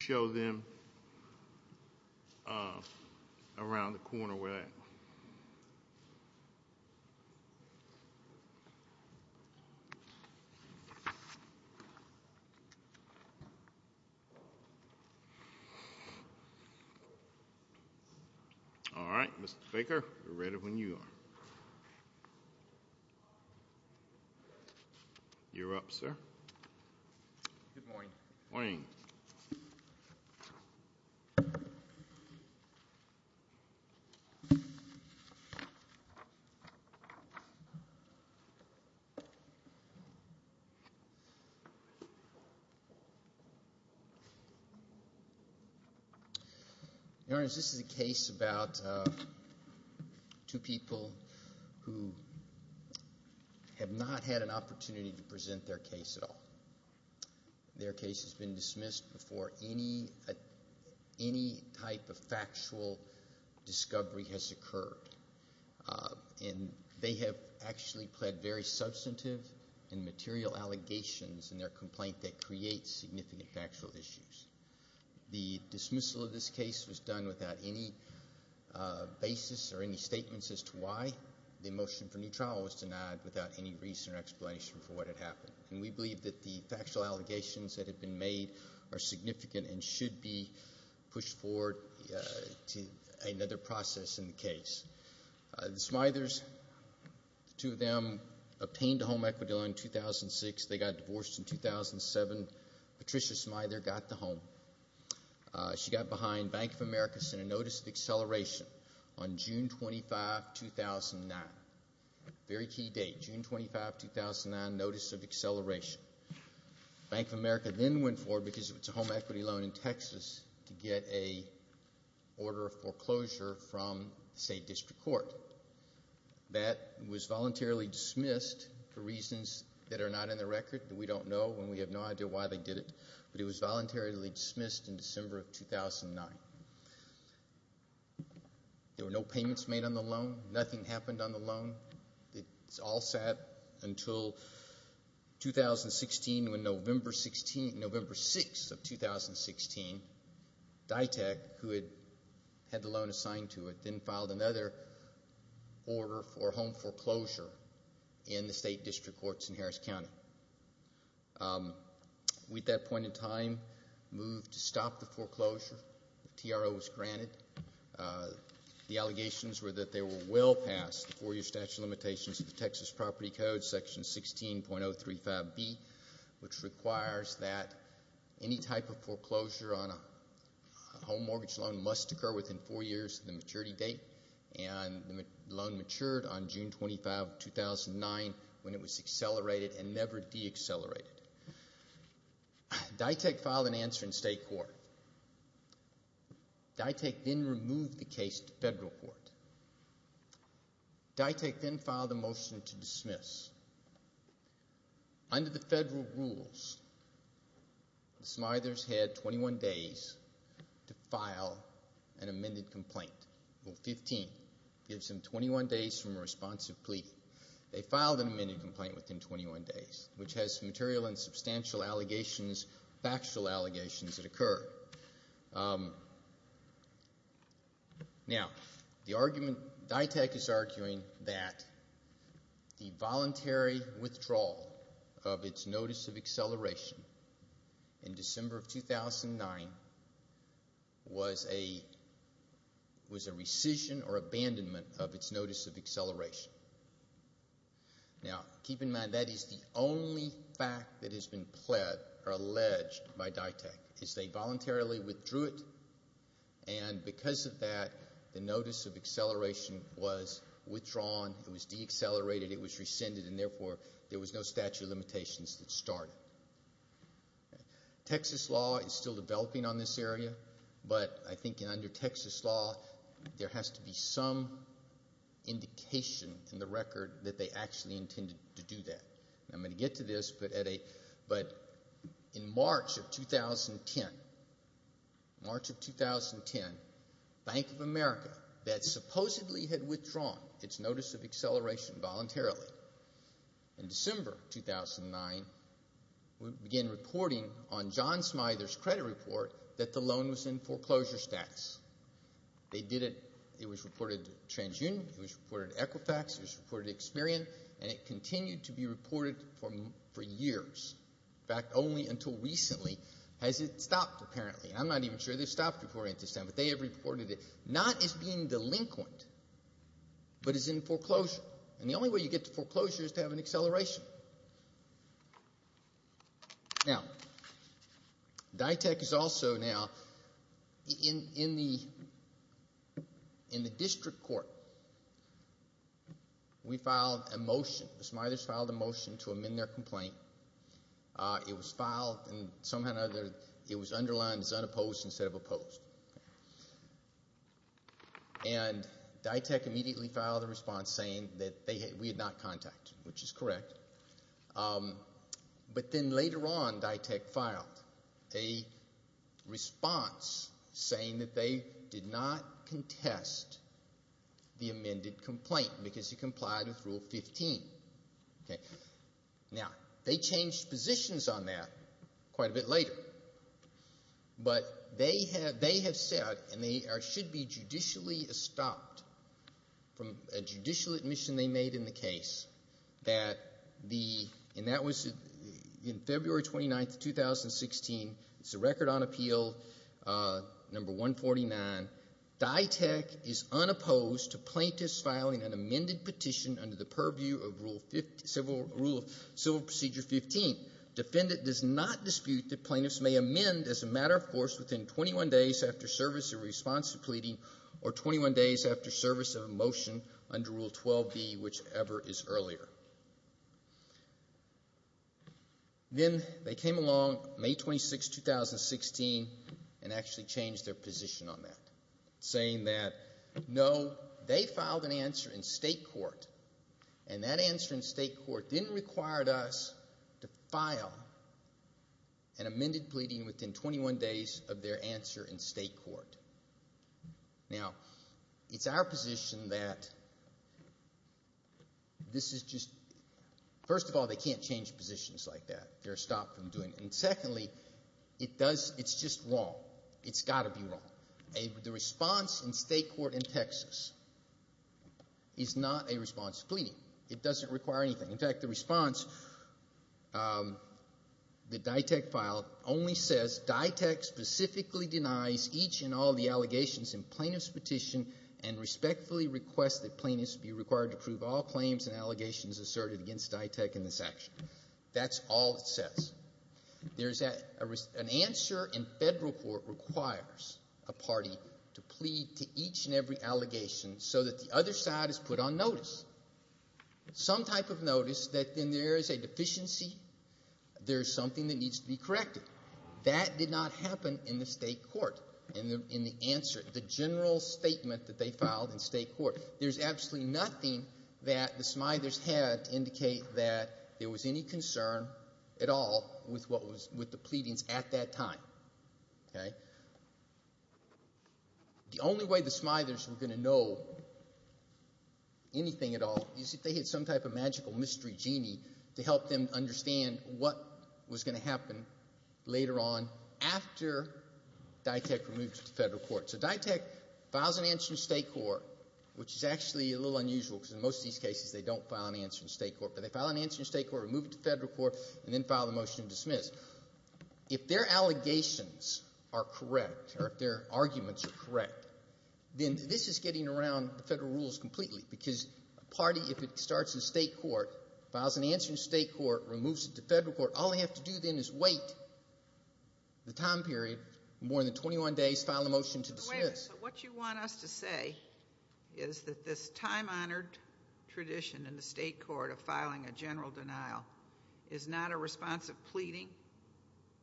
Show them around the corner where they are. All right, Mr. Baker, we're ready when you are. Good morning. Morning. Your Honor, this is a case about two people who have not had an opportunity to present their case at all. Their case has been dismissed before any type of factual discovery has occurred. And they have actually pled very substantive and material allegations in their complaint that creates significant factual issues. The dismissal of this case was done without any basis or any statements as to why the motion for new trial was denied without any reason or explanation for what had happened. And we believe that the factual allegations that have been made are significant and should be pushed forward to another process in the case. The Smithers, the two of them, obtained a home equity loan in 2006. They got divorced in 2007. Patricia Smither got the home. She got behind Bank of America sent a notice of acceleration on June 25, 2009. Very key date, June 25, 2009. Bank of America then went forward because it was a home equity loan in Texas to get a order of foreclosure from the State District Court. That was voluntarily dismissed for reasons that are not in the record, that we don't know, and we have no idea why they did it. But it was voluntarily dismissed in December of 2009. There were no payments made on the loan. Nothing happened on the loan. It all sat until 2016 when November 6 of 2016, DITAC, who had the loan assigned to it, then filed another order for home foreclosure in the State District Courts in Harris County. We, at that point in time, moved to stop the foreclosure. The TRO was granted. The allegations were that they were well past the four-year statute of limitations of the Texas Property Code, Section 16.035B, which requires that any type of foreclosure on a home mortgage loan must occur within four years of the maturity date, and the loan matured on June 25, 2009, when it was accelerated and never de-accelerated. DITAC filed an answer in State Court. DITAC then removed the case to federal court. DITAC then filed a motion to dismiss. Under the federal rules, the Smithers had 21 days to file an amended complaint. Rule 15 gives them 21 days from a responsive plea. They filed an amended complaint within 21 days, which has material and substantial allegations, factual allegations that occurred. Now, the argument DITAC is arguing that the voluntary withdrawal of its notice of acceleration in December of 2009 was a rescission or abandonment of its notice of acceleration. Now, keep in mind, that is the only fact that has been pled or alleged by DITAC, is they voluntarily withdrew it, and because of that, the notice of acceleration was withdrawn, it was de-accelerated, it was rescinded, and therefore, there was no statute of limitations that started. Texas law is still developing on this area, but I think under Texas law, there has to be some indication in the record that they actually intended to do that. I'm going to get to this, but in March of 2010, March of 2010, Bank of America, that supposedly had withdrawn its notice of acceleration voluntarily, in December of 2009, began reporting on John Smither's credit report that the loan was in foreclosure status. They did it, it was reported to TransUnion, it was reported to Equifax, it was reported to Experian, and it continued to be reported for years. In fact, only until recently has it stopped, apparently. I'm not even sure they've stopped reporting it this time, but they have reported it, not as being delinquent, but as in foreclosure. And the only way you get to foreclosure is to have an acceleration. Now, DITEC is also now in the district court. We filed a motion, the Smithers filed a motion to amend their complaint. It was filed, and somehow or another, it was underlined as unopposed instead of opposed. And DITEC immediately filed a response saying that we had not contacted them, which is correct. But then later on, DITEC filed a response saying that they did not contest the amended complaint because it complied with Rule 15. Now, they changed positions on that quite a bit later. But they have said, and they should be judicially stopped from a judicial admission they made in the case, that the—and that was in February 29, 2016. It's a record on appeal, number 149. DITEC is unopposed to plaintiffs filing an amended petition under the purview of Civil Procedure 15. Defendant does not dispute that plaintiffs may amend as a matter of course within 21 days after service of a response to pleading or 21 days after service of a motion under Rule 12b, whichever is earlier. Then they came along May 26, 2016, and actually changed their position on that, saying that no, they filed an answer in state court, and that answer in state court didn't require us to file an amended pleading within 21 days of their answer in state court. Now, it's our position that this is just—first of all, they can't change positions like that. They're stopped from doing it. And secondly, it does—it's just wrong. It's got to be wrong. The response in state court in Texas is not a response to pleading. It doesn't require anything. In fact, the response, the DITEC file only says, DITEC specifically denies each and all the allegations in plaintiff's petition and respectfully requests that plaintiffs be required to prove all claims and allegations asserted against DITEC in this action. That's all it says. An answer in federal court requires a party to plead to each and every allegation so that the other side is put on notice. Some type of notice that then there is a deficiency, there's something that needs to be corrected. That did not happen in the state court, in the answer, the general statement that they filed in state court. There's absolutely nothing that the Smithers had to indicate that there was any concern at all with what was—with the pleadings at that time. The only way the Smithers were going to know anything at all is if they had some type of magical mystery genie to help them understand what was going to happen later on after DITEC removed it to federal court. So DITEC files an answer in state court, which is actually a little unusual because in most of these cases they don't file an answer in state court. But they file an answer in state court, remove it to federal court, and then file the motion to dismiss. Because if their allegations are correct or if their arguments are correct, then this is getting around the federal rules completely. Because a party, if it starts in state court, files an answer in state court, removes it to federal court, all they have to do then is wait the time period, more than 21 days, file a motion to dismiss. But wait a minute. So what you want us to say is that this time-honored tradition in the state court of filing a general denial is not a response of pleading?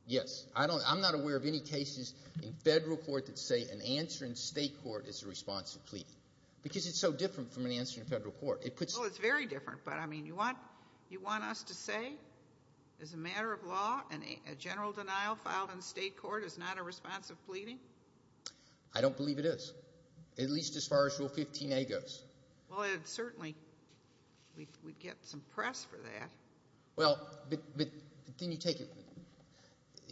Yes. I don't – I'm not aware of any cases in federal court that say an answer in state court is a response to pleading because it's so different from an answer in federal court. Well, it's very different, but I mean you want us to say as a matter of law a general denial filed in state court is not a response of pleading? I don't believe it is, at least as far as Rule 15a goes. Well, it certainly – we'd get some press for that. Well, but then you take –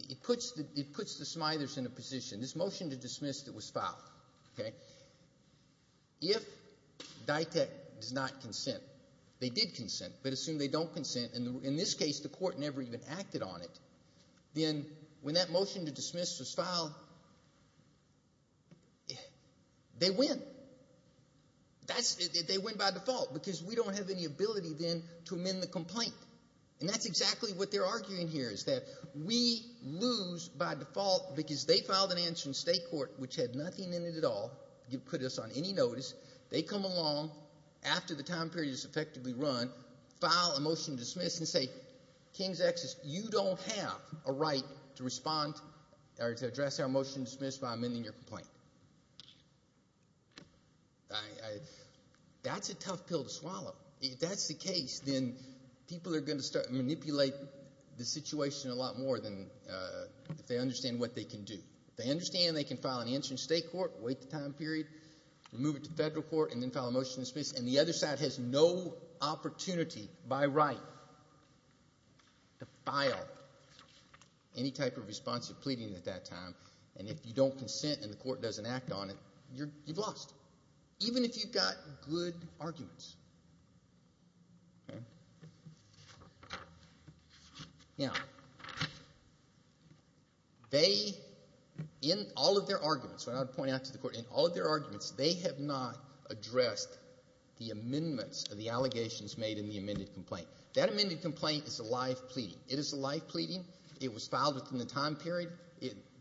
it puts the smithers in a position. This motion to dismiss that was filed, okay? If DITAC does not consent, they did consent, but assume they don't consent, and in this case the court never even acted on it, then when that motion to dismiss was filed, they win. That's – they win by default because we don't have any ability then to amend the complaint. And that's exactly what they're arguing here is that we lose by default because they filed an answer in state court which had nothing in it at all. It put us on any notice. They come along after the time period is effectively run, file a motion to dismiss and say, King's Excess, you don't have a right to respond or to address our motion to dismiss by amending your complaint. I – that's a tough pill to swallow. If that's the case, then people are going to start manipulating the situation a lot more than if they understand what they can do. If they understand they can file an answer in state court, wait the time period, move it to federal court, and then file a motion to dismiss. And the other side has no opportunity by right to file any type of responsive pleading at that time. And if you don't consent and the court doesn't act on it, you've lost, even if you've got good arguments. Now, they – in all of their arguments, what I'm pointing out to the court, in all of their arguments, they have not addressed the amendments or the allegations made in the amended complaint. That amended complaint is a live pleading. It is a live pleading. It was filed within the time period.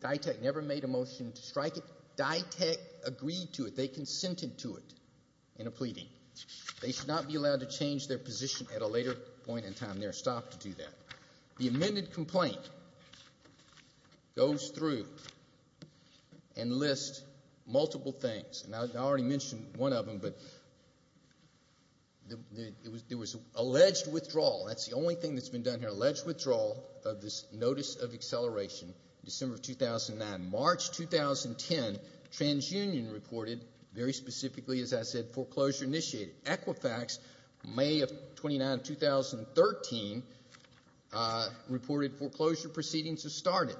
DITAC never made a motion to strike it. DITAC agreed to it. They consented to it in a pleading. They should not be allowed to change their position at a later point in time. They are stopped to do that. The amended complaint goes through and lists multiple things. And I already mentioned one of them, but there was alleged withdrawal. That's the only thing that's been done here, alleged withdrawal of this notice of acceleration in December of 2009. March 2010, TransUnion reported, very specifically, as I said, foreclosure initiated. Equifax, May of 2009, 2013, reported foreclosure proceedings have started.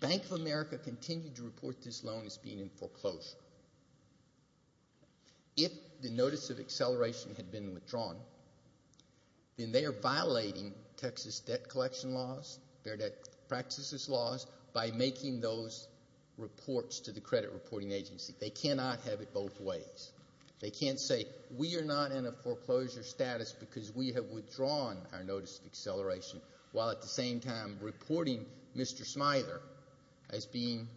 Bank of America continued to report this loan as being in foreclosure. If the notice of acceleration had been withdrawn, then they are violating Texas debt collection laws, their debt practices laws, by making those reports to the credit reporting agency. They cannot have it both ways. They can't say, we are not in a foreclosure status because we have withdrawn our notice of acceleration, while at the same time reporting Mr. Smither as being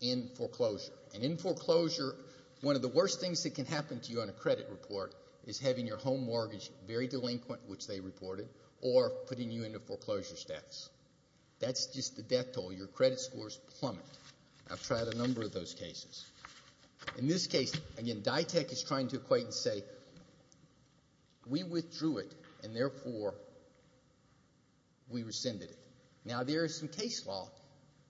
in foreclosure. And in foreclosure, one of the worst things that can happen to you on a credit report is having your home mortgage very delinquent, which they reported, or putting you in a foreclosure status. That's just the death toll. Your credit scores plummet. I've tried a number of those cases. In this case, again, DITEC is trying to equate and say, we withdrew it, and therefore, we rescinded it. Now, there is some case law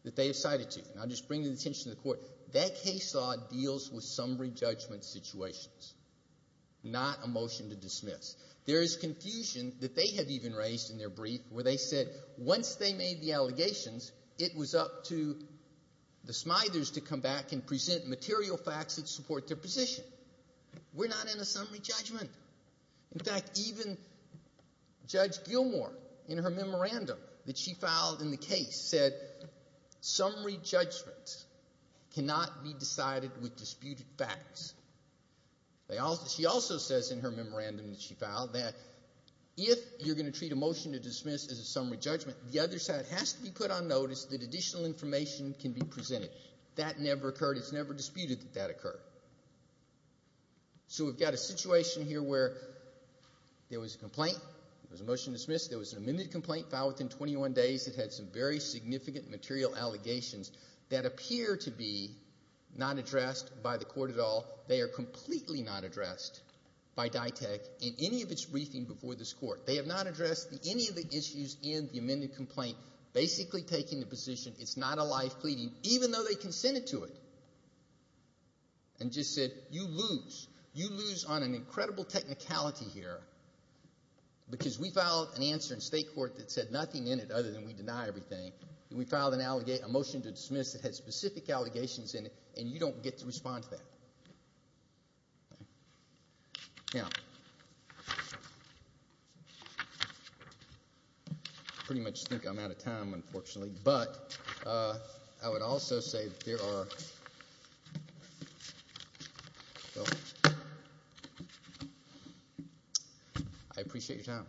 that they have cited to. And I'll just bring the attention to the court. That case law deals with summary judgment situations, not a motion to dismiss. There is confusion that they have even raised in their brief where they said once they made the allegations, it was up to the Smithers to come back and present material facts that support their position. We're not in a summary judgment. In fact, even Judge Gilmour, in her memorandum that she filed in the case, said summary judgments cannot be decided with disputed facts. She also says in her memorandum that she filed that if you're going to treat a motion to dismiss as a summary judgment, the other side has to be put on notice that additional information can be presented. That never occurred. It's never disputed that that occurred. So we've got a situation here where there was a complaint. There was a motion to dismiss. There was an amended complaint filed within 21 days that had some very significant material allegations that appear to be not addressed by the court at all. They are completely not addressed by DITAC in any of its briefing before this court. They have not addressed any of the issues in the amended complaint, basically taking the position it's not a life pleading, even though they consented to it, and just said you lose. You lose on an incredible technicality here because we filed an answer in state court that said nothing in it other than we deny everything. We filed a motion to dismiss that had specific allegations in it, and you don't get to respond to that. Now, I pretty much think I'm out of time, unfortunately, but I would also say there are – I appreciate your time.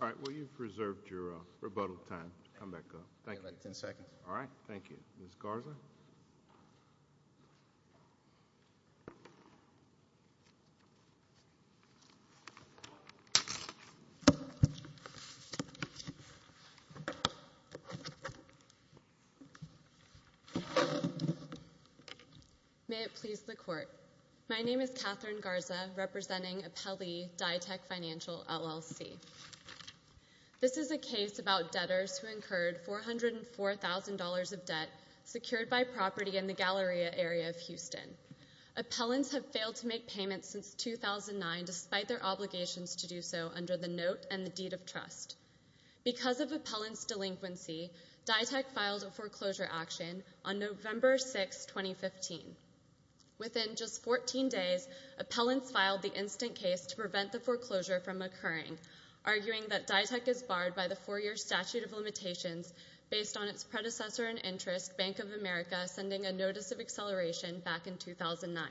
All right. Well, you've reserved your rebuttal time. Come back up. Thank you. I've got about ten seconds. All right. Thank you. Ms. Garza? May it please the court. My name is Catherine Garza, representing Appellee DITAC Financial, LLC. This is a case about debtors who incurred $404,000 of debt secured by property in the Galleria area of Houston. Appellants have failed to make payments since 2009 despite their obligations to do so under the note and the deed of trust. Because of appellant's delinquency, DITAC filed a foreclosure action on November 6, 2015. Within just 14 days, appellants filed the instant case to prevent the foreclosure from occurring, arguing that DITAC is barred by the four-year statute of limitations based on its predecessor in interest, Bank of America, sending a notice of acceleration back in 2009.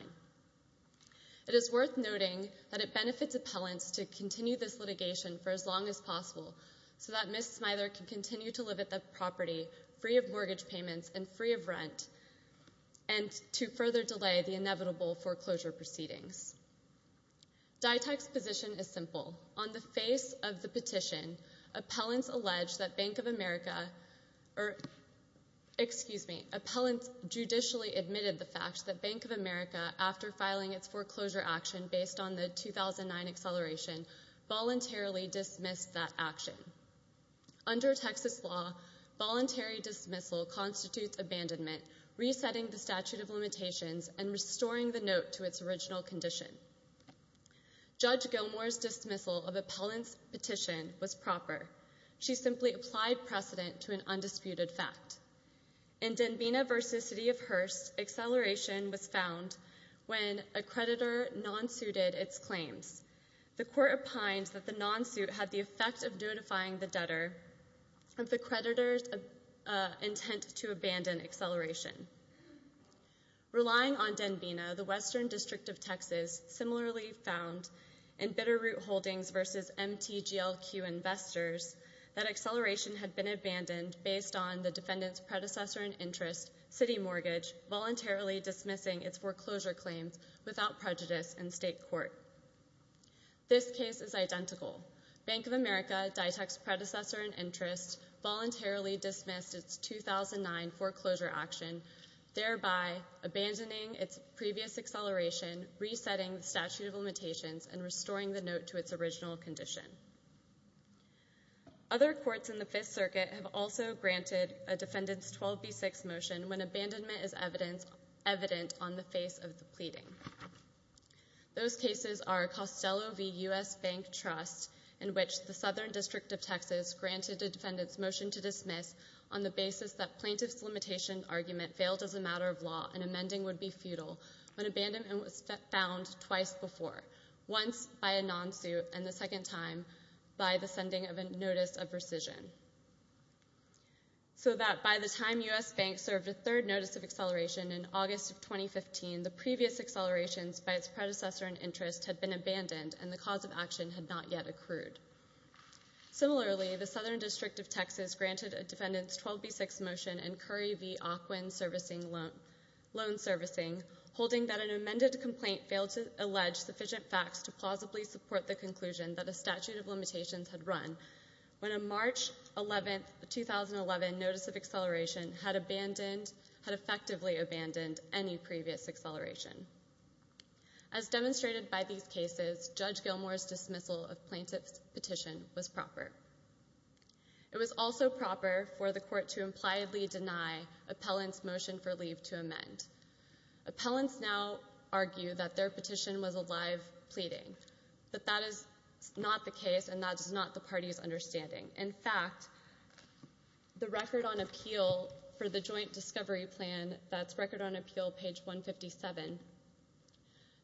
It is worth noting that it benefits appellants to continue this litigation for as long as possible so that Ms. Smither can continue to live at the property free of mortgage payments and free of rent and to further delay the inevitable foreclosure proceedings. DITAC's position is simple. On the face of the petition, appellants alleged that Bank of America, or excuse me, appellants judicially admitted the fact that Bank of America, after filing its foreclosure action based on the 2009 acceleration, voluntarily dismissed that action. Under Texas law, voluntary dismissal constitutes abandonment, resetting the statute of limitations, and restoring the note to its original condition. Judge Gilmour's dismissal of appellant's petition was proper. She simply applied precedent to an undisputed fact. In Denvina v. City of Hearst, acceleration was found when a creditor non-suited its claims. The court opined that the non-suit had the effect of notifying the debtor of the creditor's intent to abandon acceleration. Relying on Denvina, the Western District of Texas similarly found in Bitterroot Holdings v. MTGLQ Investors that acceleration had been abandoned based on the defendant's predecessor in interest, City Mortgage, voluntarily dismissing its foreclosure claims without prejudice in state court. This case is identical. Bank of America, DITAC's predecessor in interest, voluntarily dismissed its 2009 foreclosure action, thereby abandoning its previous acceleration, resetting the statute of limitations, and restoring the note to its original condition. Other courts in the Fifth Circuit have also granted a defendant's 12B6 motion when abandonment is evident on the face of the pleading. Those cases are Costello v. U.S. Bank Trust, in which the Southern District of Texas granted a defendant's motion to dismiss on the basis that plaintiff's limitation argument failed as a matter of law and amending would be futile when abandonment was found twice before, once by a non-suit and the second time by the sending of a notice of rescission. So that by the time U.S. Bank served a third notice of acceleration in August of 2015, the previous accelerations by its predecessor in interest had been abandoned and the cause of action had not yet accrued. Similarly, the Southern District of Texas granted a defendant's 12B6 motion in Curry v. Aquin Loan Servicing, holding that an amended complaint failed to allege sufficient facts to plausibly support the conclusion that a statute of limitations had run when a March 11, 2011, notice of acceleration had effectively abandoned any previous acceleration. As demonstrated by these cases, Judge Gilmour's dismissal of plaintiff's petition was proper. It was also proper for the court to impliedly deny appellant's motion for leave to amend. Appellants now argue that their petition was a live pleading, but that is not the case and that is not the party's understanding. In fact, the Record on Appeal for the Joint Discovery Plan, that's Record on Appeal, page 157,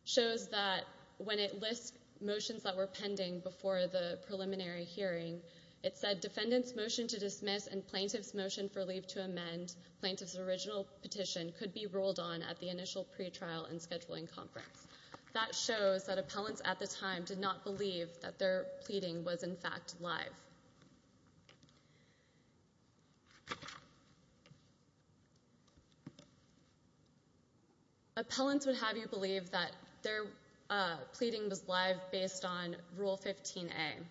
shows that when it lists motions that were pending before the preliminary hearing, it said defendant's motion to dismiss and plaintiff's motion for leave to amend, plaintiff's original petition, could be rolled on at the initial pretrial and scheduling conference. That shows that appellants at the time did not believe that their pleading was in fact live. Appellants would have you believe that their pleading was live based on Rule 15A,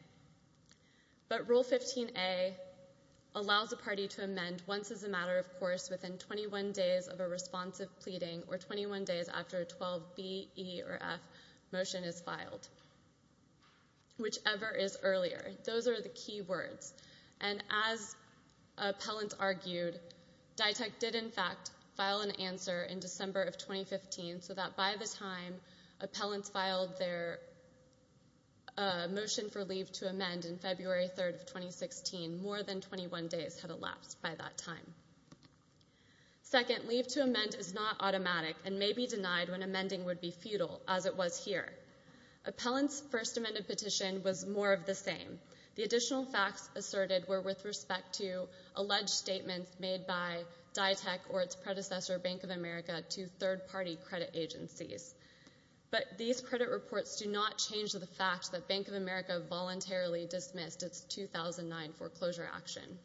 but Rule 15A allows the party to amend once as a matter of course within 21 days of a responsive pleading or 21 days after a 12B, E, or F motion is filed, whichever is earlier. Those are the key words. And as appellants argued, DITAC did in fact file an answer in December of 2015 so that by the time appellants filed their motion for leave to amend in February 3rd of 2016, more than 21 days had elapsed by that time. Second, leave to amend is not automatic and may be denied when amending would be futile, as it was here. Appellants' first amended petition was more of the same. The additional facts asserted were with respect to alleged statements made by DITAC or its predecessor, Bank of America, to third-party credit agencies. But these credit reports do not change the fact that Bank of America voluntarily dismissed its 2009 foreclosure action.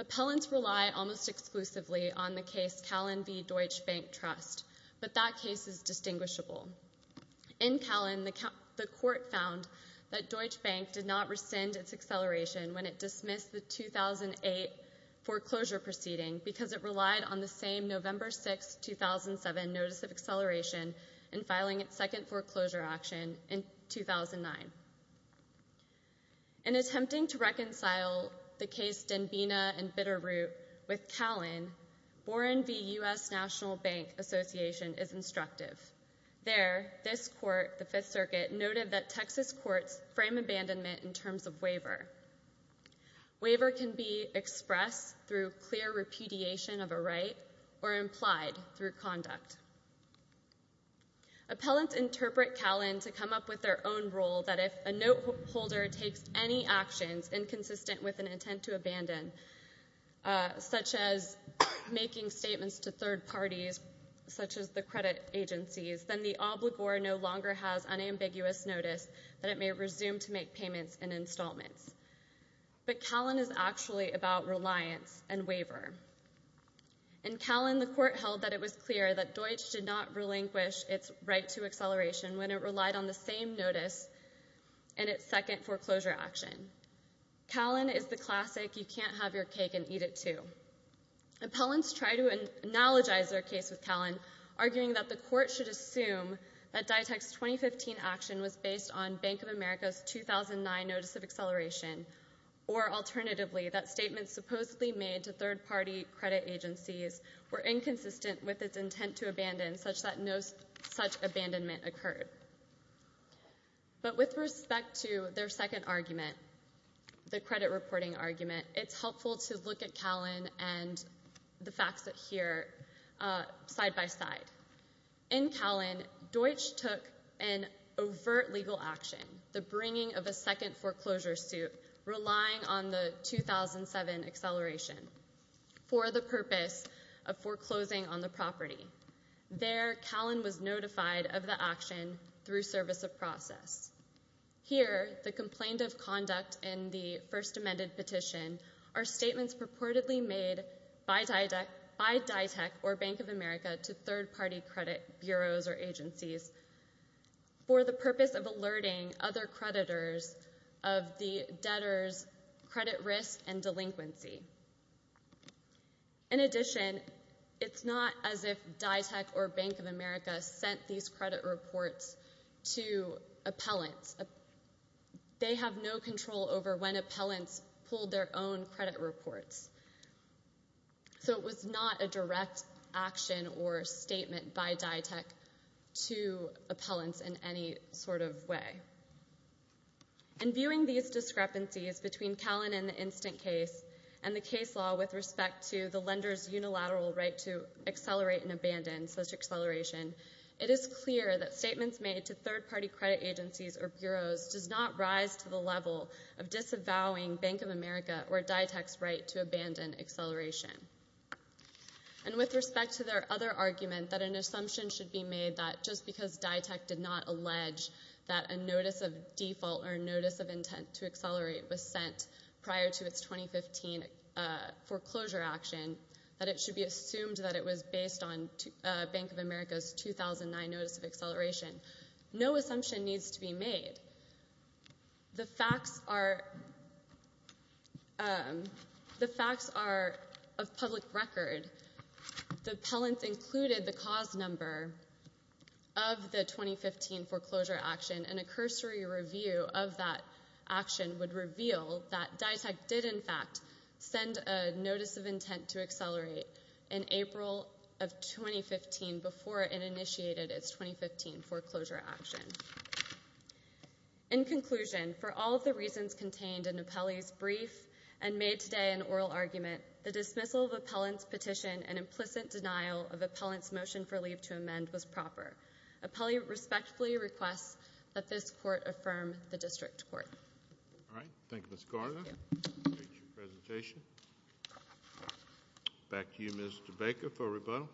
Appellants rely almost exclusively on the case Calen v. Deutsche Bank Trust, but that case is distinguishable. In Calen, the court found that Deutsche Bank did not rescind its acceleration when it dismissed the 2008 foreclosure proceeding because it relied on the same November 6, 2007 notice of acceleration in filing its second foreclosure action in 2009. In attempting to reconcile the case Denbighna and Bitterroot with Calen, Boren v. U.S. National Bank Association is instructive. There, this court, the Fifth Circuit, noted that Texas courts frame abandonment in terms of waiver. Waiver can be expressed through clear repudiation of a right or implied through conduct. Appellants interpret Calen to come up with their own rule that if a note holder takes any actions inconsistent with an intent to abandon, such as making statements to third parties, such as the credit agencies, then the obligor no longer has unambiguous notice that it may resume to make payments and installments. But Calen is actually about reliance and waiver. In Calen, the court held that it was clear that Deutsche did not relinquish its right to acceleration when it relied on the same notice in its second foreclosure action. Calen is the classic you-can't-have-your-cake-and-eat-it-too. Appellants try to analogize their case with Calen, arguing that the court should assume that DITEC's 2015 action was based on Bank of America's 2009 notice of acceleration or, alternatively, that statements supposedly made to third-party credit agencies were inconsistent with its intent to abandon such that no such abandonment occurred. But with respect to their second argument, the credit reporting argument, it's helpful to look at Calen and the facts here side by side. In Calen, Deutsche took an overt legal action, the bringing of a second foreclosure suit, relying on the 2007 acceleration for the purpose of foreclosing on the property. There, Calen was notified of the action through service of process. Here, the complaint of conduct in the first amended petition are statements purportedly made by DITEC or Bank of America to third-party credit bureaus or agencies for the purpose of alerting other creditors of the debtors' credit risk and delinquency. In addition, it's not as if DITEC or Bank of America sent these credit reports to appellants. They have no control over when appellants pull their own credit reports. So it was not a direct action or statement by DITEC to appellants in any sort of way. And viewing these discrepancies between Calen and the instant case and the case law with respect to the lender's unilateral right to accelerate and abandon such acceleration, it is clear that statements made to third-party credit agencies or bureaus does not rise to the level of disavowing Bank of America or DITEC's right to abandon acceleration. And with respect to their other argument that an assumption should be made that just because DITEC did not allege that a notice of default or notice of intent to accelerate was sent prior to its 2015 foreclosure action, that it should be assumed that it was based on Bank of America's 2009 notice of acceleration. No assumption needs to be made. The facts are of public record. The appellants included the cause number of the 2015 foreclosure action, and a cursory review of that action would reveal that DITEC did, in fact, In conclusion, for all of the reasons contained in Appellee's brief and made today in oral argument, the dismissal of Appellant's petition and implicit denial of Appellant's motion for leave to amend was proper. Appellee respectfully requests that this Court affirm the District Court. All right. Thank you, Ms. Garner. Thank you. I appreciate your presentation. Back to you, Mr. Baker, for rebuttal.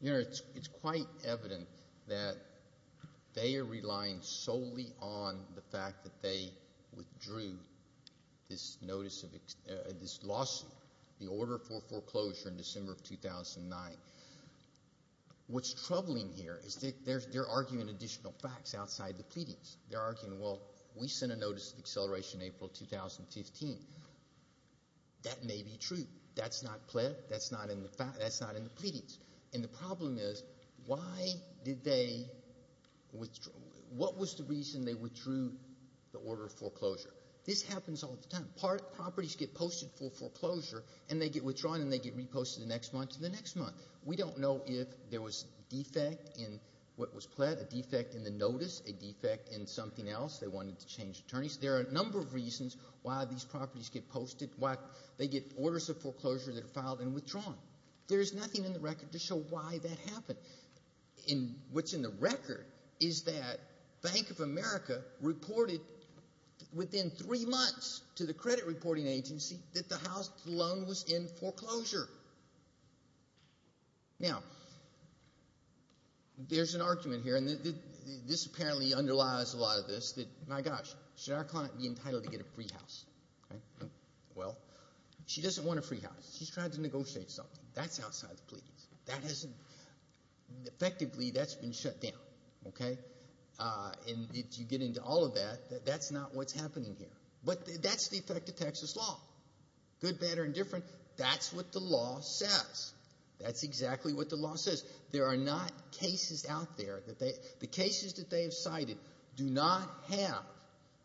You know, it's quite evident that they are relying solely on the fact that they withdrew this notice of – this lawsuit, the order for foreclosure in December of 2009. What's troubling here is they're arguing additional facts outside the pleadings. They're arguing, well, we sent a notice of acceleration April 2015. That may be true. That's not in the pleadings. And the problem is why did they – what was the reason they withdrew the order of foreclosure? This happens all the time. Properties get posted for foreclosure and they get withdrawn and they get reposted the next month and the next month. We don't know if there was a defect in what was pled, a defect in the notice, a defect in something else. They wanted to change attorneys. There are a number of reasons why these properties get posted, why they get orders of foreclosure that are filed and withdrawn. There is nothing in the record to show why that happened. What's in the record is that Bank of America reported within three months to the credit reporting agency that the house loan was in foreclosure. Now, there's an argument here, and this apparently underlies a lot of this, that, my gosh, should our client be entitled to get a free house? Well, she doesn't want a free house. She's trying to negotiate something. That's outside the pleadings. That hasn't – effectively, that's been shut down. Okay? And if you get into all of that, that's not what's happening here. But that's the effect of Texas law, good, bad, or indifferent. That's what the law says. That's exactly what the law says. There are not cases out there that they – the cases that they have cited do not have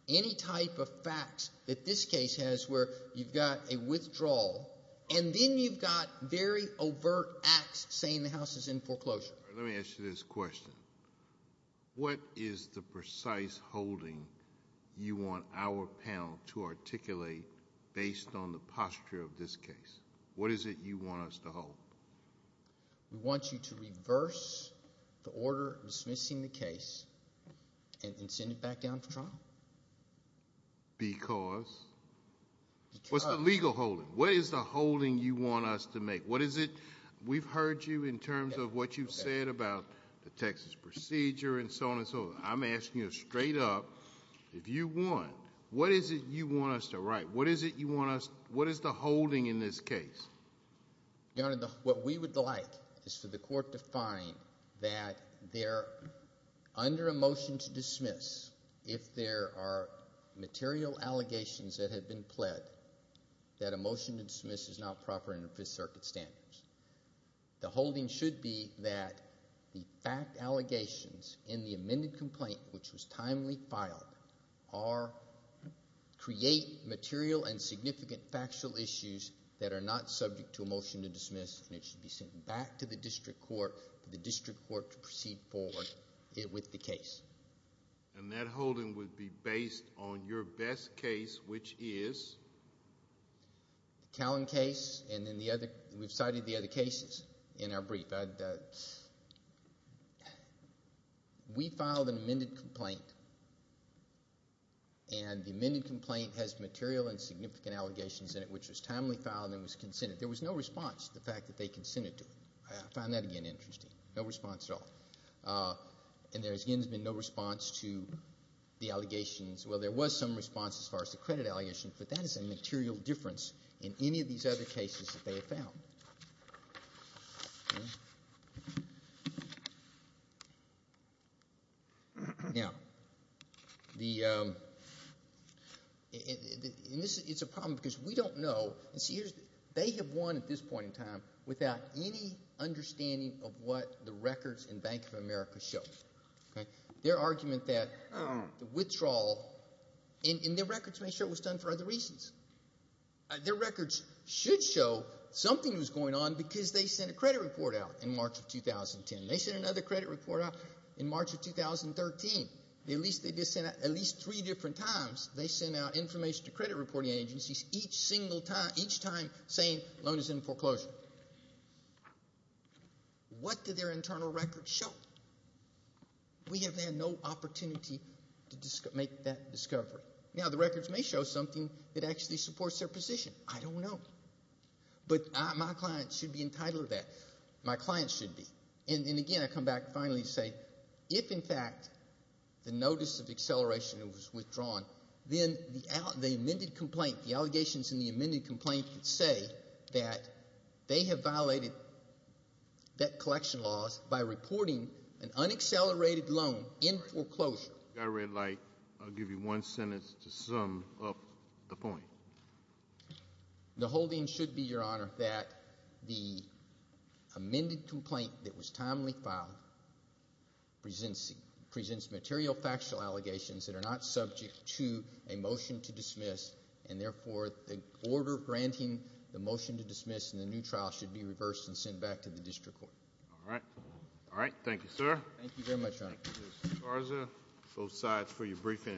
any type of facts that this case has where you've got a withdrawal, and then you've got very overt acts saying the house is in foreclosure. Let me ask you this question. What is the precise holding you want our panel to articulate based on the posture of this case? What is it you want us to hold? We want you to reverse the order dismissing the case and send it back down to trial. Because? Because. What's the legal holding? What is the holding you want us to make? What is it – we've heard you in terms of what you've said about the Texas procedure and so on and so forth. I'm asking you straight up, if you want, what is it you want us to write? What is it you want us – what is the holding in this case? Your Honor, what we would like is for the court to find that there – under a motion to dismiss, if there are material allegations that have been pled, that a motion to dismiss is not proper under Fifth Circuit standards. The holding should be that the fact allegations in the amended complaint, which was timely filed, are – create material and significant factual issues that are not subject to a motion to dismiss, and it should be sent back to the district court for the district court to proceed forward with the case. And that holding would be based on your best case, which is? The Callan case, and then the other – we've cited the other cases in our brief. We filed an amended complaint, and the amended complaint has material and significant allegations in it, which was timely filed and was consented. There was no response to the fact that they consented to it. I found that, again, interesting. No response at all. And there again has been no response to the allegations. Well, there was some response as far as the credit allegations, but that is a material difference in any of these other cases that they have found. Now, the – and this is – it's a problem because we don't know – and see, they have won at this point in time without any understanding of what the records in Bank of America show. Their argument that the withdrawal – and their records make sure it was done for other reasons. Their records should show something was going on because they sent a credit report out in March of 2010. They sent another credit report out in March of 2013. At least they did send out – at least three different times they sent out information to credit reporting agencies each single time – each time saying loan is in foreclosure. What do their internal records show? We have had no opportunity to make that discovery. Now, the records may show something that actually supports their position. I don't know. But my clients should be entitled to that. My clients should be. And, again, I come back and finally say if, in fact, the notice of acceleration was withdrawn, then the amended complaint – the allegations in the amended complaint that say that they have violated debt collection laws by reporting an unaccelerated loan in foreclosure. If you've got a red light, I'll give you one sentence to sum up the point. The holding should be, Your Honor, that the amended complaint that was timely filed presents material factual allegations that are not subject to a motion to dismiss. And, therefore, the order granting the motion to dismiss in the new trial should be reversed and sent back to the district court. All right. All right. Thank you, sir. Thank you very much, Your Honor. Mr. Garza, both sides for your briefing.